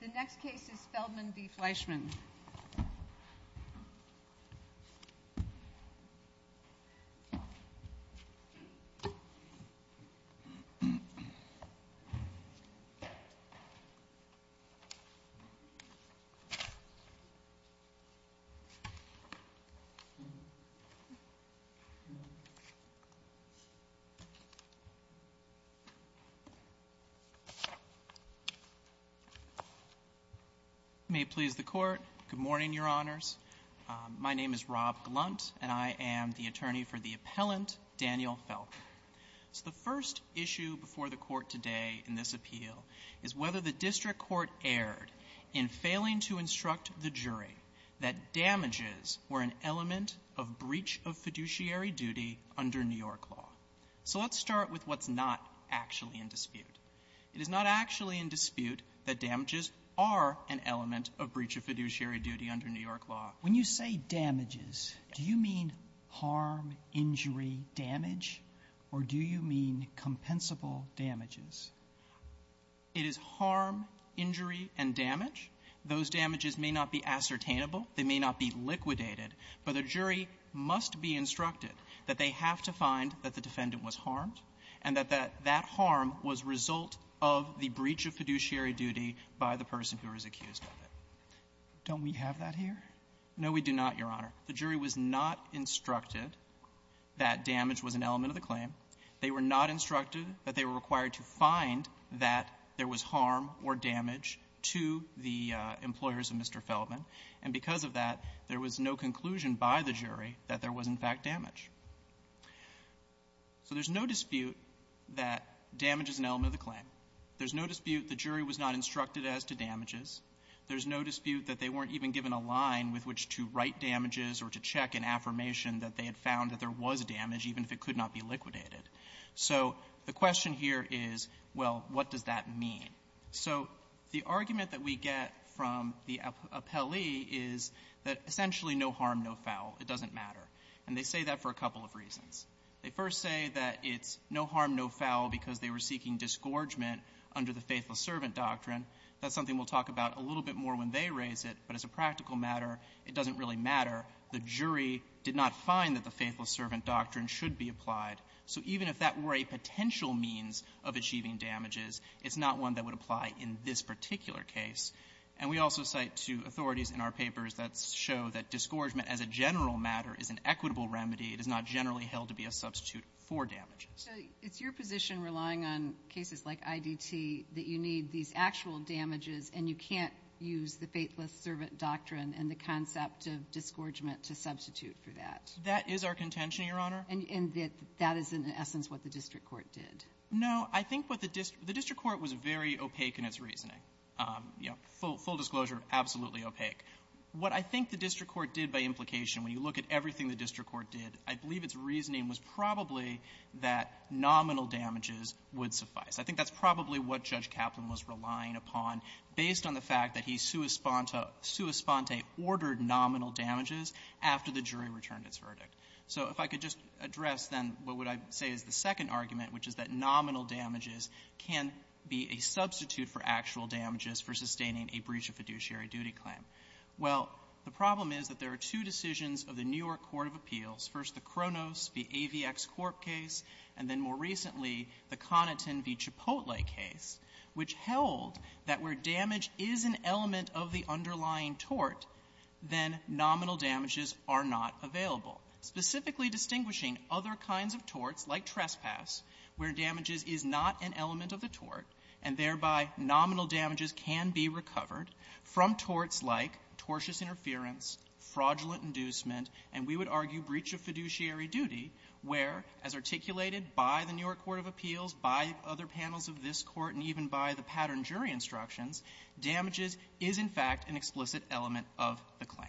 The next case is Feldman v. Fleischman. May it please the Court, good morning, Your Honors. My name is Rob Glunt, and I am the attorney for the appellant, Daniel Feldman. The first issue before the Court today in this appeal is whether the district court erred in failing to instruct the jury that damages were an element of breach of fiduciary duty under New York law. So let's start with what's not actually in dispute. It is not actually in dispute that damages are an element of breach of fiduciary duty under New York law. Sotomayor, when you say damages, do you mean harm, injury, damage, or do you mean compensable damages? It is harm, injury, and damage. Those damages may not be ascertainable. They may not be liquidated. But the jury must be instructed that they have to find that the defendant was harmed and that that harm was result of the breach of fiduciary duty by the person who was accused of it. Don't we have that here? No, we do not, Your Honor. The jury was not instructed that damage was an element of the claim. They were not instructed that they were required to find that there was harm or damage to the employers of Mr. Feldman. And because of that, there was no conclusion by the jury that there was, in fact, damage. So there's no dispute that damage is an element of the claim. There's no dispute the jury was not instructed as to damages. There's no dispute that they weren't even given a line with which to write damages or to check an affirmation that they had found that there was damage, even if it could not be liquidated. So the question here is, well, what does that mean? So the argument that we get from the appellee is that essentially no harm, no foul. It doesn't matter. And they say that for a couple of reasons. They first say that it's no harm, no foul because they were seeking disgorgement under the Faithless Servant Doctrine. That's something we'll talk about a little bit more when they raise it, but as a practical matter, it doesn't really matter. The jury did not find that the Faithless Servant Doctrine should be applied. So even if that were a potential means of achieving damages, it's not one that would apply in this particular case. And we also cite two authorities in our papers that show that disgorgement as a general matter is an equitable remedy. It is not generally held to be a substitute for damages. So it's your position, relying on cases like IDT, that you need these actual damages and you can't use the Faithless Servant Doctrine and the concept of disgorgement to substitute for that? That is our contention, Your Honor. And that is, in essence, what the district court did. No. I think what the district court was very opaque in its reasoning. You know, full disclosure, absolutely opaque. What I think the district court did by implication, when you look at everything the district court did, I believe its reasoning was probably that nominal damages would suffice. I think that's probably what Judge Kaplan was relying upon based on the fact that he sua sponte ordered nominal damages after the jury returned its verdict. So if I could just address, then, what would I say is the second argument, which is that nominal damages can be a substitute for actual damages for sustaining a breach of fiduciary duty claim. Well, the problem is that there are two decisions of the New York Court of Appeals, first the Kronos v. AVX Corp. case, and then more recently, the Conaton v. Cipotle case, which held that where damage is an element of the underlying tort, then nominal damages are not available. Specifically distinguishing other kinds of torts, like trespass, where damages is not an element of the tort, and thereby nominal damages can be recovered from torts like tortious interference, fraudulent inducement, and we would argue breach of fiduciary duty, where, as articulated by the New York Court of Appeals, by other panels of this Court, and even by the pattern jury instructions, damages is, in fact, an explicit element of the claim.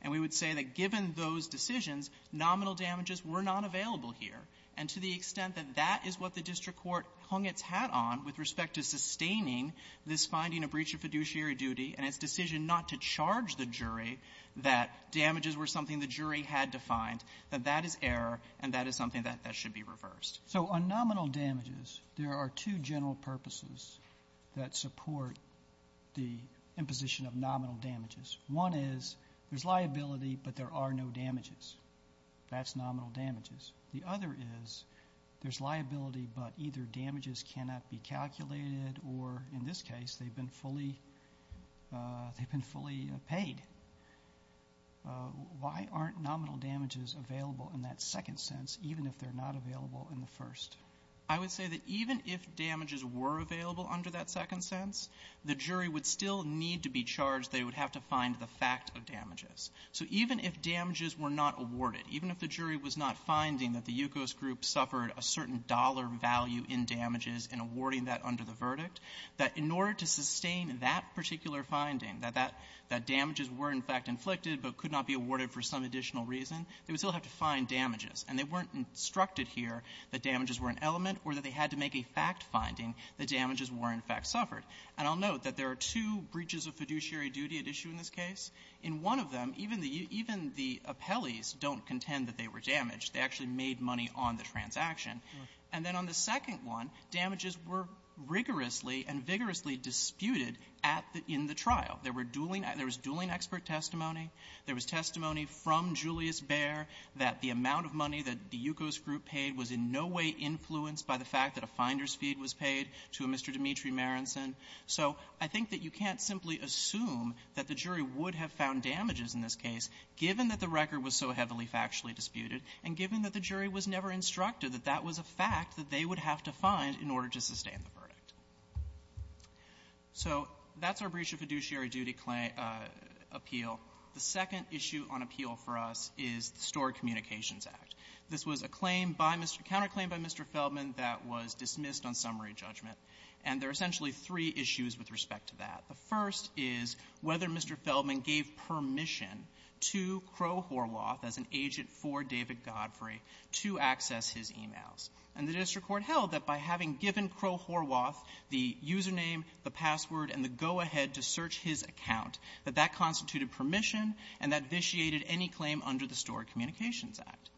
And we would say that given those decisions, nominal damages were not available here. And to the extent that that is what the district court hung its hat on with respect to sustaining this finding of breach of fiduciary duty and its decision not to charge the jury that damages were something the jury had defined, that that is error and that is something that should be reversed. Robertson, So on nominal damages, there are two general purposes that support the imposition of nominal damages. One is there's liability, but there are no damages. That's nominal damages. The other is there's liability, but either damages cannot be calculated or, in this case, they've been fully they've been fully paid. Why aren't nominal damages available in that second sense, even if they're not available in the first? I would say that even if damages were available under that second sense, the jury would still need to be charged. They would have to find the fact of damages. So even if damages were not awarded, even if the jury was not finding that the Yukos Group suffered a certain dollar value in damages in awarding that under the verdict, that in order to sustain that particular finding, that that damages were, in fact, inflicted but could not be awarded for some additional reason, they would still have to find damages. And they weren't instructed here that damages were an element or that they had to make a fact finding that damages were, in fact, suffered. And I'll note that there are two breaches of fiduciary duty at issue in this case. In one of them, even the appellees don't contend that they were damaged. They actually made money on the transaction. And then on the second one, damages were rigorously and vigorously disputed at the end of the trial. There was dueling expert testimony. There was testimony from Julius Baer that the amount of money that the Yukos Group paid was in no way influenced by the fact that a finder's fee was paid to a Mr. Dimitri Maranson. So I think that you can't simply assume that the jury would have found damages in this case, given that the record was so heavily factually disputed and given that the jury was never instructed that that was a fact that they would have to find in order to sustain the verdict. So that's our breach of fiduciary duty claim appeal. The second issue on appeal for us is the Stored Communications Act. This was a claim by Mr. --"counterclaim by Mr. Feldman that was dismissed on summary judgment." And there are essentially three issues with respect to that. The first is whether Mr. Feldman gave permission to Crowe Horwath as an agent for David Godfrey to access his e-mails. And the district court held that by having given Crowe Horwath the user name, the password, and the go-ahead to search his account, that that constituted permission and that vitiated any claim under the Stored Communications Act.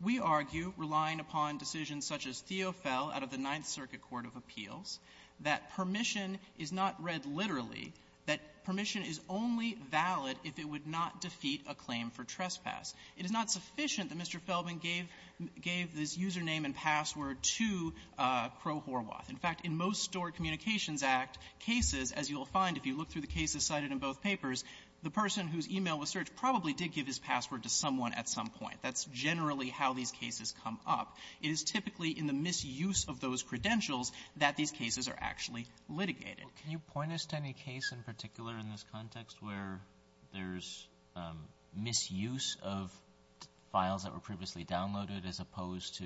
We argue, relying upon decisions such as Theo Fell out of the Ninth Circuit Court of Appeals, that permission is not read literally, that permission is only valid if it would not defeat a claim for trespass. It is not sufficient that Mr. Feldman gave this user name and password to Crowe Horwath. In fact, in most Stored Communications Act cases, as you will find if you look through the cases cited in both papers, the person whose e-mail was searched probably did give his password to someone at some point. That's generally how these cases come up. It is typically in the misuse of those credentials that these cases are actually litigated. Kennedy. Can you point us to any case in particular in this context where there's misuse of files that were previously downloaded as opposed to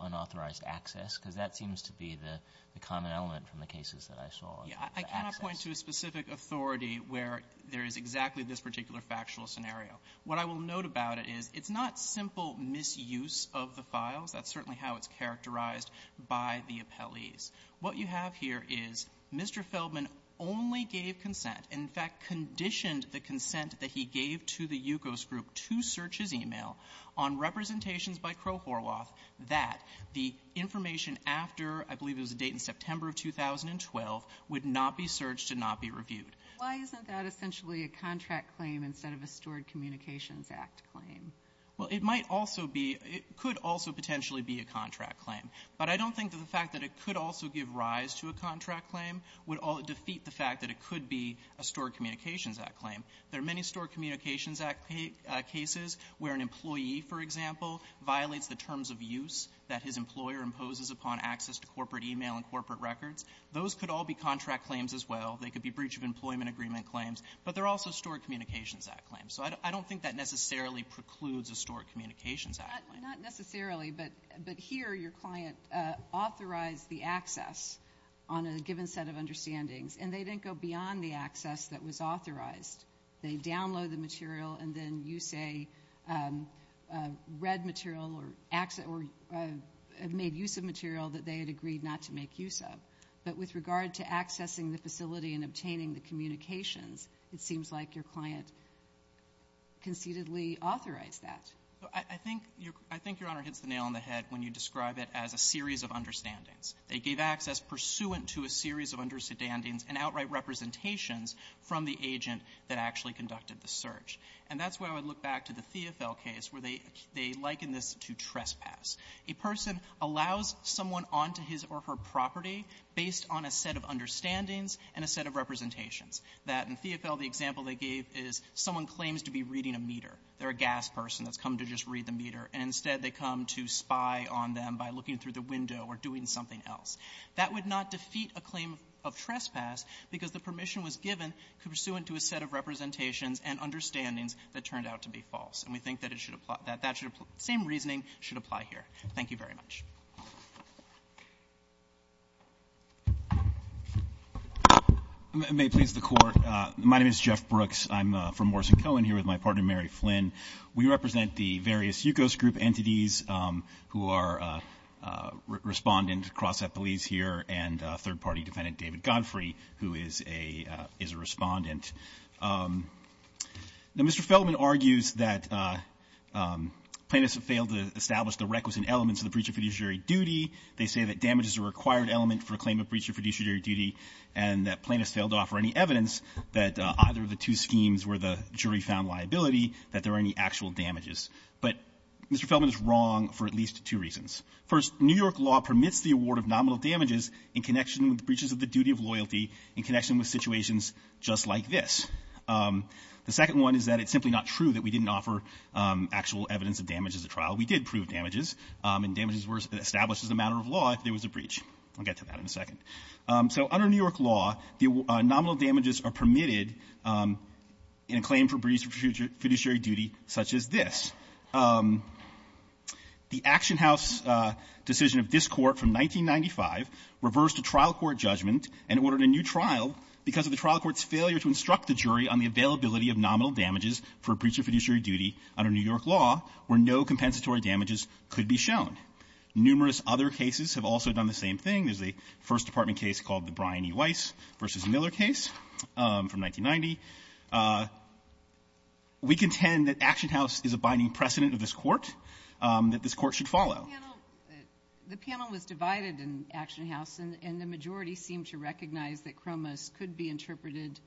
unauthorized access? Because that seems to be the common element from the cases that I saw. I cannot point to a specific authority where there is exactly this particular factual scenario. What I will note about it is it's not simple misuse of the files. That's certainly how it's characterized by the appellees. What you have here is Mr. Feldman only gave consent, in fact, conditioned the consent that he gave to the Yukos group to search his e-mail on representations by Crowe Horwath that the information after, I believe it was a date in September of 2012, would not be searched and not be reviewed. Why isn't that essentially a contract claim instead of a Stored Communications Act claim? Well, it might also be — it could also potentially be a contract claim. But I don't think that the fact that it could also give rise to a contract claim would defeat the fact that it could be a Stored Communications Act claim. There are many Stored Communications Act cases where an employee, for example, violates the terms of use that his employer imposes upon access to corporate e-mail and corporate records. Those could all be contract claims as well. They could be breach of employment agreement claims. But they're also Stored Communications Act claims. So I don't think that necessarily precludes a Stored Communications Act claim. Not necessarily, but here your client authorized the access on a given set of understandings, and they didn't go beyond the access that was authorized. They download the material, and then you say read material or made use of material that they had agreed not to make use of. But with regard to accessing the facility and obtaining the communications, it seems like your client concededly authorized that. I think your Honor hits the nail on the head when you describe it as a series of understandings. They gave access pursuant to a series of understandings and outright representations from the agent that actually conducted the search. And that's why I would look back to the Theofil case where they liken this to trespass. A person allows someone onto his or her property based on a set of understandings and a set of representations. That in Theofil, the example they gave is someone claims to be reading a meter. They're a gas person that's come to just read the meter, and instead they come to spy on them by looking through the window or doing something else. That would not defeat a claim of trespass because the permission was given pursuant to a set of representations and understandings that turned out to be false. And we think that it should apply to that. That should apply. Same reasoning should apply here. Thank you very much. Brooks. I'm from Morrison-Cohen here with my partner, Mary Flynn. We represent the various Yukos group entities who are respondent across at police here and third party defendant David Godfrey, who is a respondent. Now, Mr. Feldman argues that plaintiffs have failed to establish the requisite elements of the breach of fiduciary duty. They say that damage is a required element for a claim of breach of fiduciary duty and that plaintiffs failed to offer any evidence that either of the two schemes were the jury-found liability, that there are any actual damages. But Mr. Feldman is wrong for at least two reasons. First, New York law permits the award of nominal damages in connection with breaches of the duty of loyalty in connection with situations just like this. The second one is that it's simply not true that we didn't offer actual evidence of damage as a trial. We did prove damages, and damages were established as a matter of law if there was a breach. I'll get to that in a second. So under New York law, the nominal damages are permitted in a claim for breach of fiduciary duty such as this. The Action House decision of this Court from 1995 reversed a trial court judgment and ordered a new trial because of the trial court's failure to instruct the jury on the availability of nominal damages for a breach of fiduciary duty under New York law where no compensatory damages could be shown. Numerous other cases have also done the same thing. There's a First Department case called the Brian E. Weiss v. Miller case from 1990. We contend that Action House is a binding precedent of this Court, that this Court should follow. The panel was divided in Action House, and the majority seemed to recognize that Cromos could be interpreted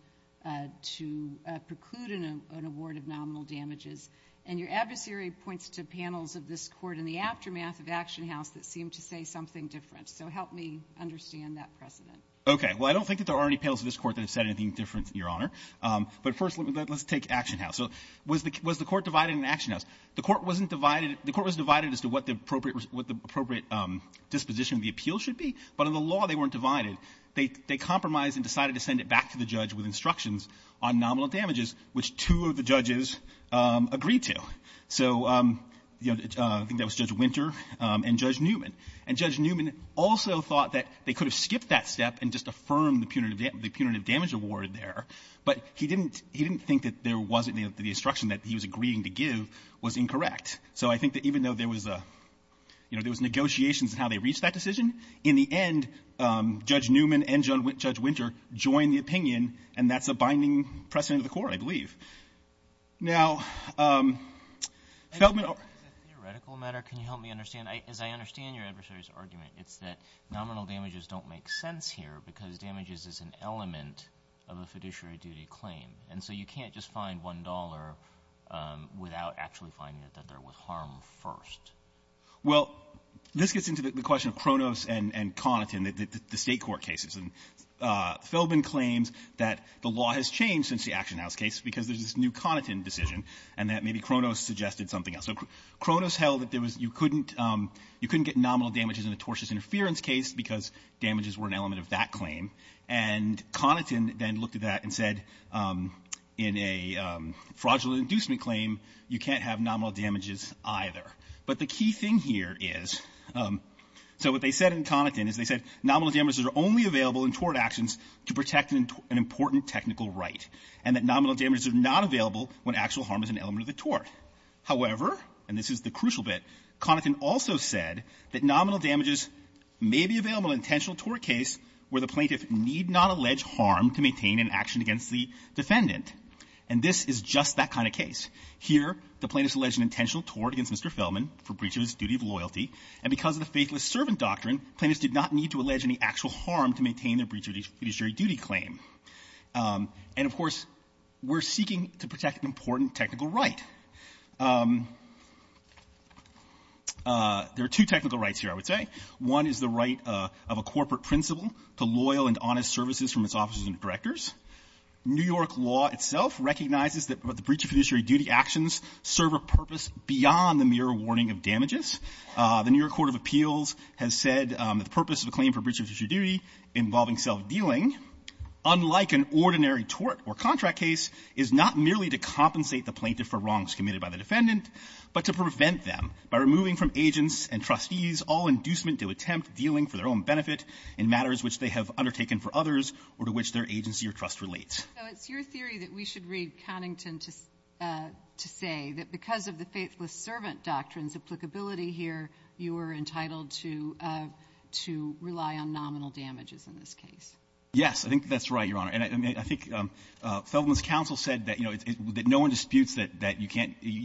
to preclude an award of nominal damages. And your adversary points to panels of this Court in the aftermath of Action House that seem to say something different. So help me understand that precedent. Okay. Well, I don't think that there are any panels of this Court that have said anything different, Your Honor. But first, let's take Action House. So was the Court divided in Action House? The Court wasn't divided. The Court was divided as to what the appropriate disposition of the appeal should be, but in the law they weren't divided. They compromised and decided to send it back to the judge with instructions on nominal damages, which two of the judges agreed to. So, you know, I think that And Judge Newman also thought that they could have skipped that step and just affirmed the punitive damage award there, but he didn't think that there wasn't the instruction that he was agreeing to give was incorrect. So I think that even though there was a, you know, there was negotiations in how they reached that decision, in the end, Judge Newman and Judge Winter joined the opinion, and that's a binding precedent of the Court, I believe. Now, Feldman or… Is it a theoretical matter? Can you help me understand? As I understand your adversary's argument, it's that nominal damages don't make sense here because damages is an element of a fiduciary duty claim. And so you can't just find $1 without actually finding that there was harm first. Well, this gets into the question of Kronos and Conatin, the State Court cases. And Feldman claims that the law has changed since the Action House case because there's this new Conatin decision, and that maybe Kronos suggested something else. So Kronos held that there was — you couldn't — you couldn't get nominal damages in a tortious interference case because damages were an element of that claim. And Conatin then looked at that and said, in a fraudulent inducement claim, you can't have nominal damages either. But the key thing here is — so what they said in Conatin is they said nominal damages are only available in tort actions to protect an important technical right, and that nominal damages are not available when actual harm is an element of the tort. However, and this is the crucial bit, Conatin also said that nominal damages may be available in an intentional tort case where the plaintiff need not allege harm to maintain an action against the defendant. And this is just that kind of case. Here, the plaintiff has alleged an intentional tort against Mr. Feldman for breach of his duty of loyalty, and because of the Faithless Servant Doctrine, plaintiffs did not need to allege any actual harm to maintain their fiduciary duty claim. And, of course, we're seeking to protect an important technical right. There are two technical rights here, I would say. One is the right of a corporate principal to loyal and honest services from its officers and directors. New York law itself recognizes that the breach of fiduciary duty actions serve a purpose beyond the mere warning of damages. The New York Court of Appeals has said that the purpose of a claim for breach of fiduciary duty involving self-dealing, unlike an ordinary tort or contract case, is not merely to compensate the plaintiff for wrongs committed by the defendant, but to prevent them by removing from agents and trustees all inducement to attempt dealing for their own benefit in matters which they have undertaken for others or to which their agency or trust relates. So it's your theory that we should read Connington to say that because of the Faithless Serpent case, you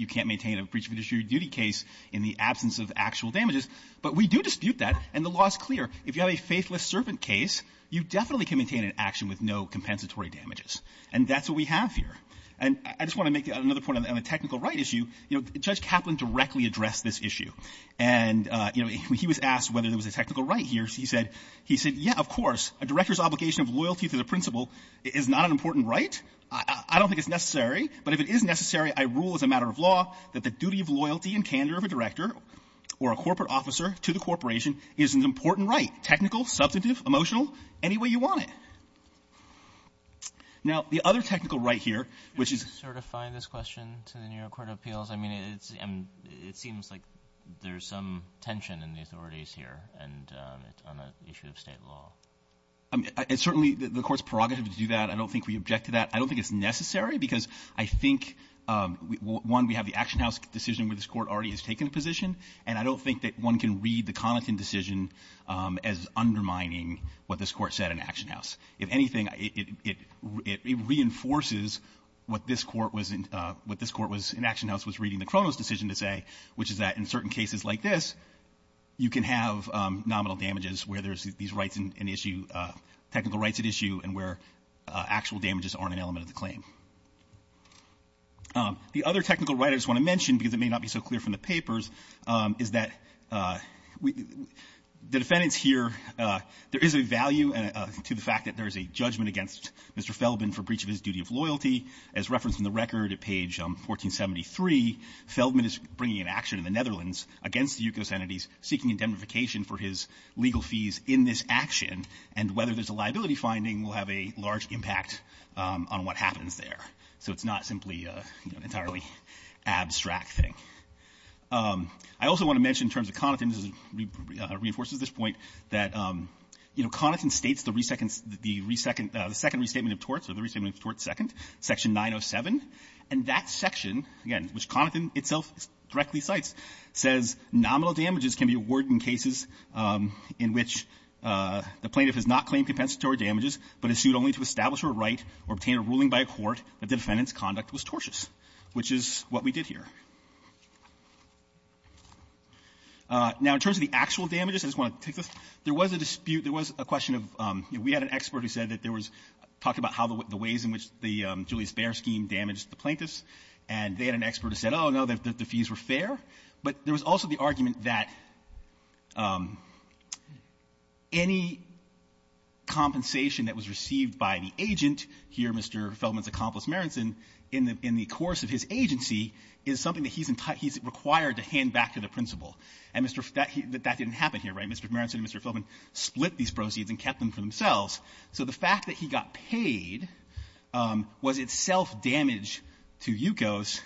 can't maintain a breach of fiduciary duty case in the absence of actual damages. But we do dispute that, and the law is clear. If you have a Faithless Serpent case, you definitely can maintain an action with no compensatory damages. And that's what we have here. And I just want to make another point on the technical right issue. You know, Judge Kaplan directly addressed this issue. And, you know, he was asked whether there was a technical right here. He said, yeah, of course, a director's obligation of loyalty to the principal is not an important right. I don't think it's necessary. But if it is necessary, I rule as a matter of law that the duty of loyalty and candor of a director or a corporate officer to the corporation is an important right, technical, substantive, emotional, any way you want it. Now, the other technical right here, which is — to the New York court of appeals, I mean, it's — it seems like there's some tension in the authorities here, and it's on the issue of State law. I mean, it's certainly — the Court's prerogative to do that. I don't think we object to that. I don't think it's necessary because I think, one, we have the Action House decision where this Court already has taken a position, and I don't think that one can read the Connaughton decision as undermining what this Court said in Action House. If anything, it — it reinforces what this Court was in — what this Court was — in Action House was reading the Cronos decision to say, which is that in certain cases like this, you can have nominal damages where there's these rights in issue — technical rights at issue and where actual damages aren't an element of the claim. The other technical right I just want to mention, because it may not be so clear from the papers, is that we — the defendants here — there is a value to the fact that there is a judgment against Mr. Feldman for breach of his duty of loyalty. As referenced in the record at page 1473, Feldman is bringing an action in the Netherlands against the U.S. entities seeking indemnification for his legal fees in this action, and whether there's a liability finding will have a large impact on what happens there. So it's not simply an entirely abstract thing. I also want to mention in terms of Connaughton — this reinforces this point — that, you know, Connaughton states the second restatement of torts, or the restatement of torts second, Section 907. And that section, again, which Connaughton itself directly cites, says nominal damages can be awarded in cases in which the plaintiff has not claimed compensatory damages, but is sued only to establish her right or obtain a ruling by a court that the defendant's conduct was tortious, which is what we did here. Now, in terms of the actual damages, I just want to take this. There was a dispute. There was a question of — you know, we had an expert who said that there was — talked about how the ways in which the Julius Baer scheme damaged the plaintiffs, and they had an expert who said, oh, no, the fees were fair. But there was also the argument that any compensation that was received by the agent here, Mr. Feldman's accomplice, Marenson, in the course of his agency is something that he's — he's required to hand back to the principal. And Mr. — that didn't happen here, right? Mr. Marenson and Mr. Feldman split these fees and kept them for themselves. So the fact that he got paid was itself damage to Yukos,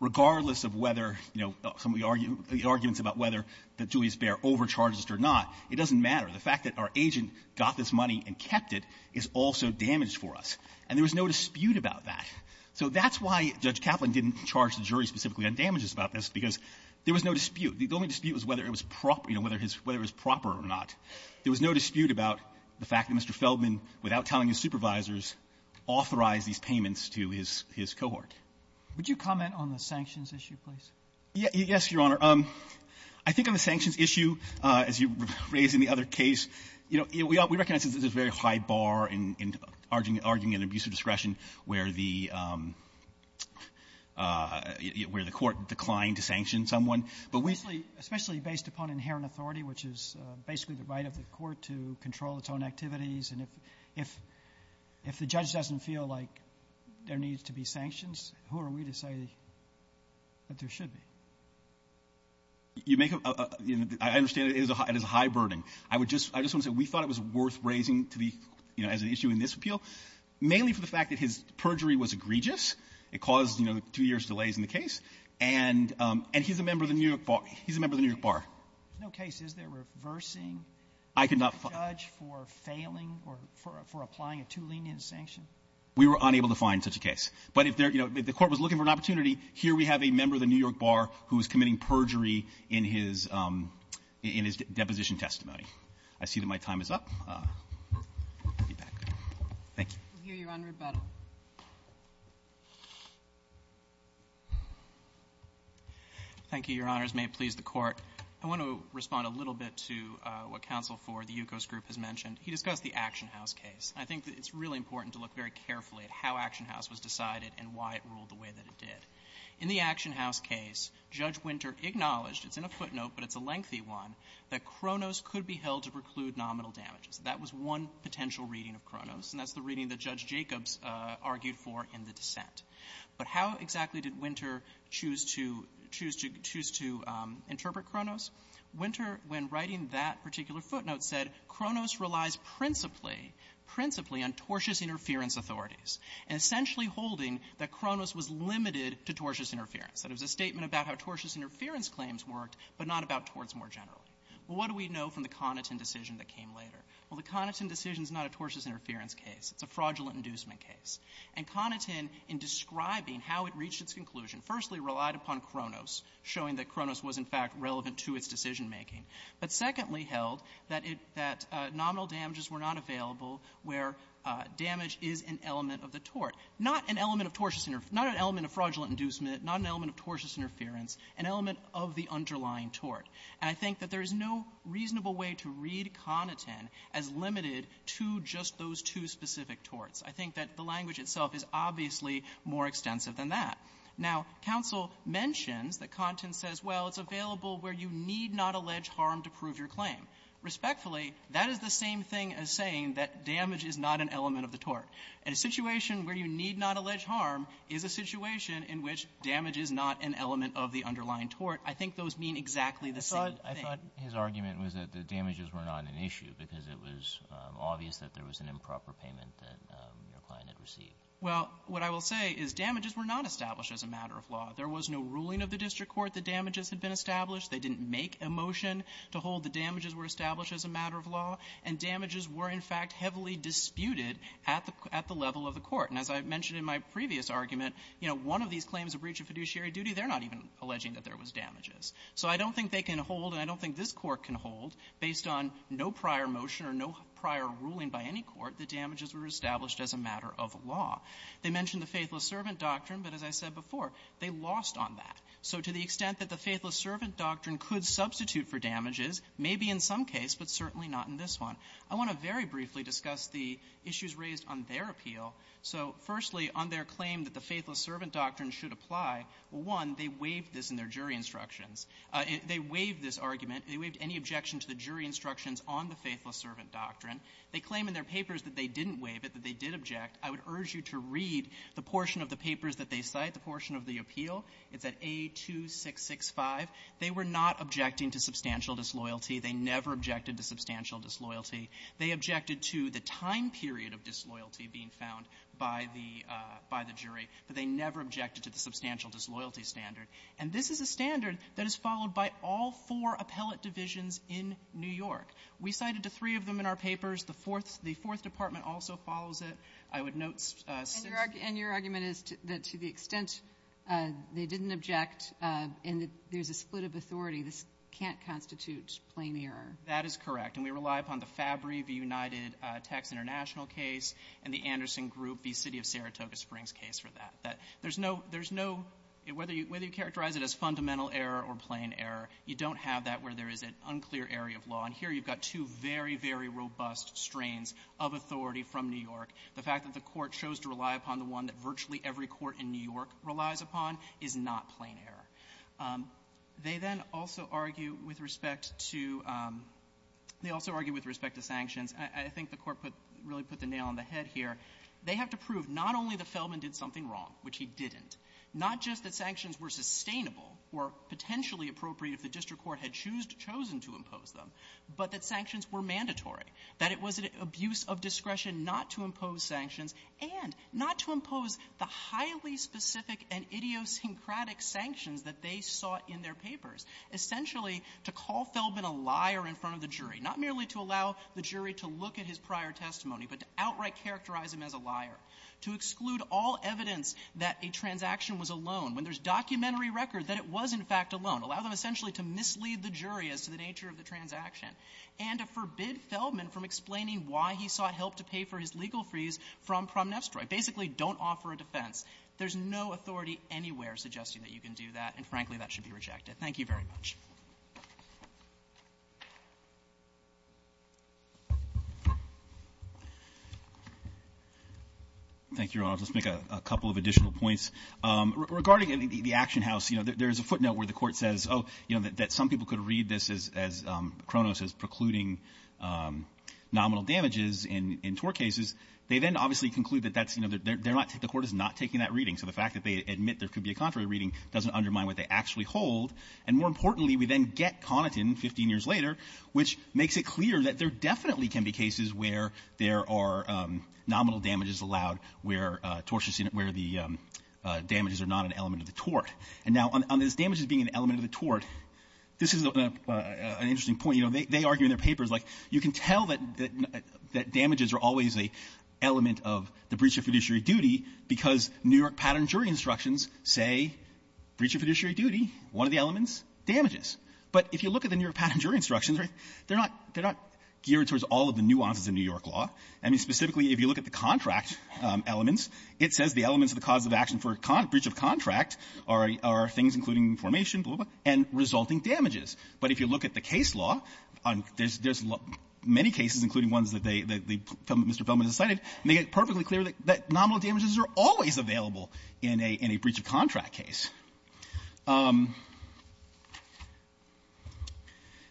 regardless of whether, you know, some of the arguments about whether the Julius Baer overcharged us or not. It doesn't matter. The fact that our agent got this money and kept it is also damaged for us. And there was no dispute about that. So that's why Judge Kaplan didn't charge the jury specifically on damages about this, because there was no dispute. The only dispute was whether it was proper — you know, whether his — whether it was proper or not. There was no dispute about the fact that Mr. Feldman, without telling his supervisors, authorized these payments to his — his cohort. Robertson, would you comment on the sanctions issue, please? Yes, Your Honor. I think on the sanctions issue, as you raised in the other case, you know, we recognize that there's a very high bar in arguing an abuse of discretion where the — where the Court declined to sanction someone. But we — especially based upon inherent authority, which is basically the right of the Court to control its own activities, and if — if the judge doesn't feel like there needs to be sanctions, who are we to say that there should be? You make a — I understand it is a high — it is a high burden. I would just — I just want to say we thought it was worth raising to the — you know, as an issue in this appeal, mainly for the fact that his perjury was egregious. It caused, you know, two years' delays in the case. And he's a member of the New York Bar. He's a member of the New York Bar. There's no case, is there, reversing a judge for failing or for applying a too-lenient sanction? We were unable to find such a case. But if there — you know, if the Court was looking for an opportunity, here we have a member of the New York Bar who is committing perjury in his — in his deposition testimony. I see that my time is up. I'll be back. Thank you. We'll hear you on rebuttal. Thank you, Your Honors. May it please the Court. I want to respond a little bit to what Counsel for the Yukos Group has mentioned. He discussed the Action House case. I think it's really important to look very carefully at how Action House was decided and why it ruled the way that it did. In the Action House case, Judge Winter acknowledged — it's in a footnote, but it's a lengthy one — that Kronos could be held to preclude nominal damages. That was one potential reading of Kronos, and that's the reading that Judge Jacobs argued for in the dissent. But how exactly did Winter choose to — choose to — choose to interpret Kronos? Winter, when writing that particular footnote, said Kronos relies principally — principally on tortious interference authorities, and essentially holding that Kronos was limited to tortious interference, that it was a statement about how tortious interference claims worked, but not about torts more generally. Well, what do we know from the Connaughton decision that came later? Well, the Connaughton decision is not a tortious interference case. It's a fraudulent inducement case. And Connaughton, in describing how it reached its conclusion, firstly relied upon Kronos, showing that Kronos was, in fact, relevant to its decision-making, but secondly held that it — that nominal damages were not available where damage is an element of the tort, not an element of tortious — not an element of fraudulent inducement, not an element of tortious interference, an element of the underlying tort. And I think that there is no reasonable way to read Connaughton as limited to just those two specific torts. I think that the language itself is obviously more extensive than that. Now, counsel mentions that Connaughton says, well, it's available where you need not allege harm to prove your claim. Respectfully, that is the same thing as saying that damage is not an element of the tort. In a situation where you need not allege harm is a situation in which damage is not an element of the underlying tort, I think those mean exactly the same Kagan. I thought his argument was that the damages were not an issue because it was obvious that there was an improper payment that your client had received. Well, what I will say is damages were not established as a matter of law. There was no ruling of the district court that damages had been established. They didn't make a motion to hold that damages were established as a matter of law. And damages were, in fact, heavily disputed at the — at the level of the court. And as I mentioned in my previous argument, you know, one of these claims of breach of fiduciary duty, they're not even alleging that there was damages. So I don't think they can hold, and I don't think this Court can hold, based on no prior motion or no prior ruling by any court, that damages were established as a matter of law. They mentioned the Faithless Servant Doctrine, but as I said before, they lost on that. So to the extent that the Faithless Servant Doctrine could substitute for damages, maybe in some case, but certainly not in this one. I want to very briefly discuss the issues raised on their appeal. So firstly, on their claim that the Faithless Servant Doctrine should apply, one, they waived this in their jury instructions. They waived this argument. They waived any objection to the jury instructions on the Faithless Servant Doctrine. They claim in their papers that they didn't waive it, that they did object. I would urge you to read the portion of the papers that they cite, the portion of the appeal. It's at A2665. They were not objecting to substantial disloyalty. They never objected to substantial disloyalty. They objected to the time period of disloyalty being found by the jury, but they never objected to the substantial disloyalty standard. And this is a standard that is followed by all four appellate divisions in New York. We cited the three of them in our papers. The fourth the fourth department also follows it. I would note since the ---- And your argument is that to the extent they didn't object and that there's a split of authority, this can't constitute plain error. That is correct. And we rely upon the Fabry v. United Tax International case and the Anderson Group v. City of Saratoga Springs case for that. There's no ---- there's no ---- whether you characterize it as fundamental error or plain error, you don't have that where there is an unclear area of law. And here you've got two very, very robust strains of authority from New York. The fact that the Court chose to rely upon the one that virtually every court in New York considers to be plain error, they then also argue with respect to ---- they also argue with respect to sanctions. I think the Court put ---- really put the nail on the head here. They have to prove not only that Feldman did something wrong, which he didn't, not just that sanctions were sustainable or potentially appropriate if the district court had chose to impose them, but that sanctions were mandatory, that it was an abuse of discretion not to impose sanctions and not to impose the highly specific and idiosyncratic sanctions that they sought in their papers. Essentially, to call Feldman a liar in front of the jury, not merely to allow the jury to look at his prior testimony, but to outright characterize him as a liar, to exclude all evidence that a transaction was a loan when there's documentary record that it was, in fact, a loan, allow them essentially to mislead the jury as to the nature of the transaction, and to forbid Feldman from explaining why he sought help to pay for his legal fees from Promneftstroi. Basically, don't offer a defense. There's no authority anywhere suggesting that you can do that, and frankly, that should be rejected. Thank you very much. Roberts. Let's make a couple of additional points. Regarding the action house, you know, there's a footnote where the Court says, oh, you know, that some people could read this as Cronos is precluding nominal damages in tort cases. They then obviously conclude that that's, you know, they're not taking the Court is not taking that reading, so the fact that they admit there could be a contrary reading doesn't undermine what they actually hold, and more importantly, we then get Connaughton 15 years later, which makes it clear that there definitely can be cases where there are nominal damages allowed, where tortious unit, where the damages are not an element of the tort. And now, on these damages being an element of the tort, this is an interesting point. You know, they argue in their papers, like, you can tell that damages are always an element of the breach of fiduciary duty because New York pattern jury instructions say breach of fiduciary duty, one of the elements, damages. But if you look at the New York pattern jury instructions, right, they're not geared towards all of the nuances of New York law. I mean, specifically, if you look at the contract elements, it says the elements of the cause of action for breach of contract are things including formation, blah, blah, blah, and resulting damages. But if you look at the case law, there's many cases, including ones that they, that Mr. Feldman has cited, and they get perfectly clear that nominal damages are always available in a breach of contract case.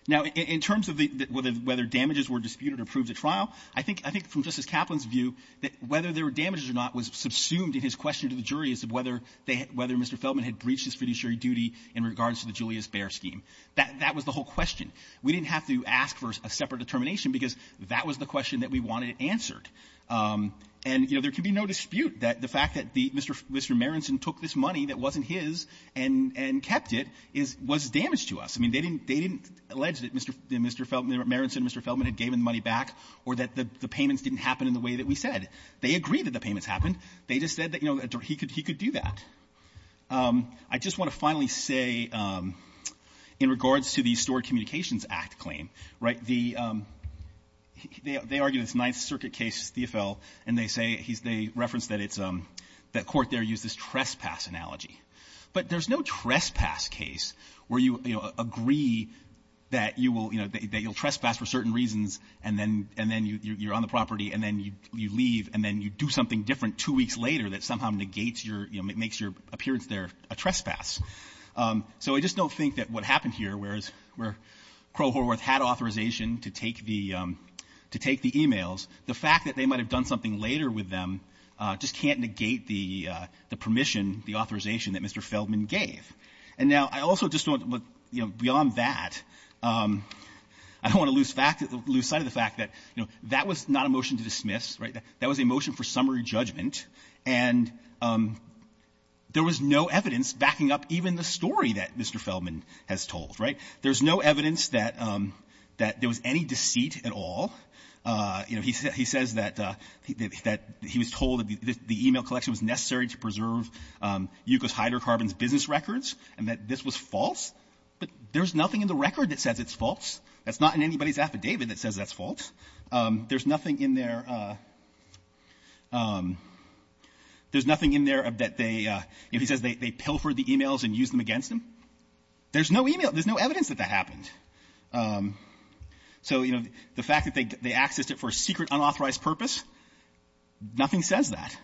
Now, in terms of whether damages were disputed or proved at trial, I think, I think from Justice Kaplan's view, that whether there were damages or not was subsumed in his question to the jury as to whether they had Mr. Feldman had breached his fiduciary duty in regards to the Julius Baer scheme. That was the whole question. We didn't have to ask for a separate determination because that was the question that we wanted answered. And, you know, there could be no dispute that the fact that the Mr. Marenson took this money that wasn't his and kept it was damaged to us. I mean, they didn't, they didn't allege that Mr. Feldman, Marenson and Mr. Feldman had given the money back or that the payments didn't happen in the way that we said. They agreed that the payments happened. They just said that, you know, he could do that. I just want to finally say, you know, in regards to the Stored Communications Act claim, right, the they argue this Ninth Circuit case, the AFL, and they say, they reference that it's a, that court there used this trespass analogy. But there's no trespass case where you, you know, agree that you will, you know, that you'll trespass for certain reasons and then you're on the property and then you leave and then you do something different two weeks later that somehow negates your, you know, makes your appearance there a trespass. So I just don't think that what happened here, where Crow-Horworth had authorization to take the, to take the e-mails, the fact that they might have done something later with them just can't negate the permission, the authorization that Mr. Feldman gave. And now, I also just want to look, you know, beyond that, I don't want to lose sight of the fact that, you know, that was not a motion to dismiss, right? That was a motion for summary judgment, and there was no evidence backing up even the story that Mr. Feldman has told, right? There's no evidence that, that there was any deceit at all. You know, he says that, that he was told that the e-mail collection was necessary to preserve Yukos Hydrocarbon's business records, and that this was false. But there's nothing in the record that says it's false. That's not in anybody's affidavit that says that's false. There's nothing in there, there's nothing in there that they, you know, he says they pilfered the e-mails and used them against him. There's no e-mail. There's no evidence that that happened. So, you know, the fact that they accessed it for a secret, unauthorized purpose, nothing says that.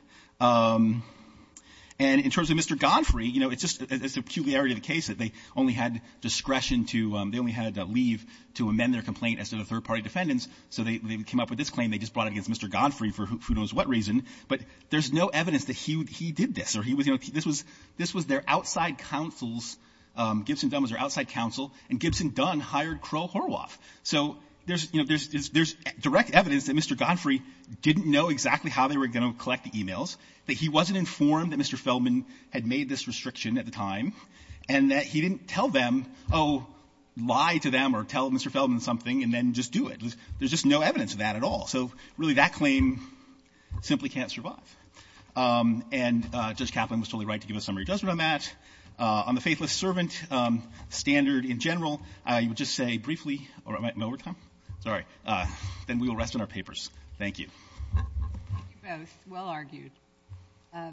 And in terms of Mr. Godfrey, you know, it's just, it's a peculiarity of the case that they only had discretion to, they only had leave to amend their complaint as to the third-party defendants, so they came up with this claim. They just brought it against Mr. Godfrey for who knows what reason, but there's no evidence that he did this or he was, you know, this was, this was their outside counsel's, Gibson Dunn was their outside counsel, and Gibson Dunn hired Kroll-Horwath. So there's, you know, there's direct evidence that Mr. Godfrey didn't know exactly how they were going to collect the e-mails, that he wasn't informed that Mr. Feldman had made this restriction at the time, and that he didn't tell them, oh, lie to them or tell Mr. Feldman something and then just do it. There's just no evidence of that at all. So, really, that claim simply can't survive. And Judge Kaplan was totally right to give a summary judgment on that. On the Faithless Servant standard in general, I would just say briefly or am I in overtime? Sorry. Then we will rest on our papers. Thank you. Thank you both. Well argued.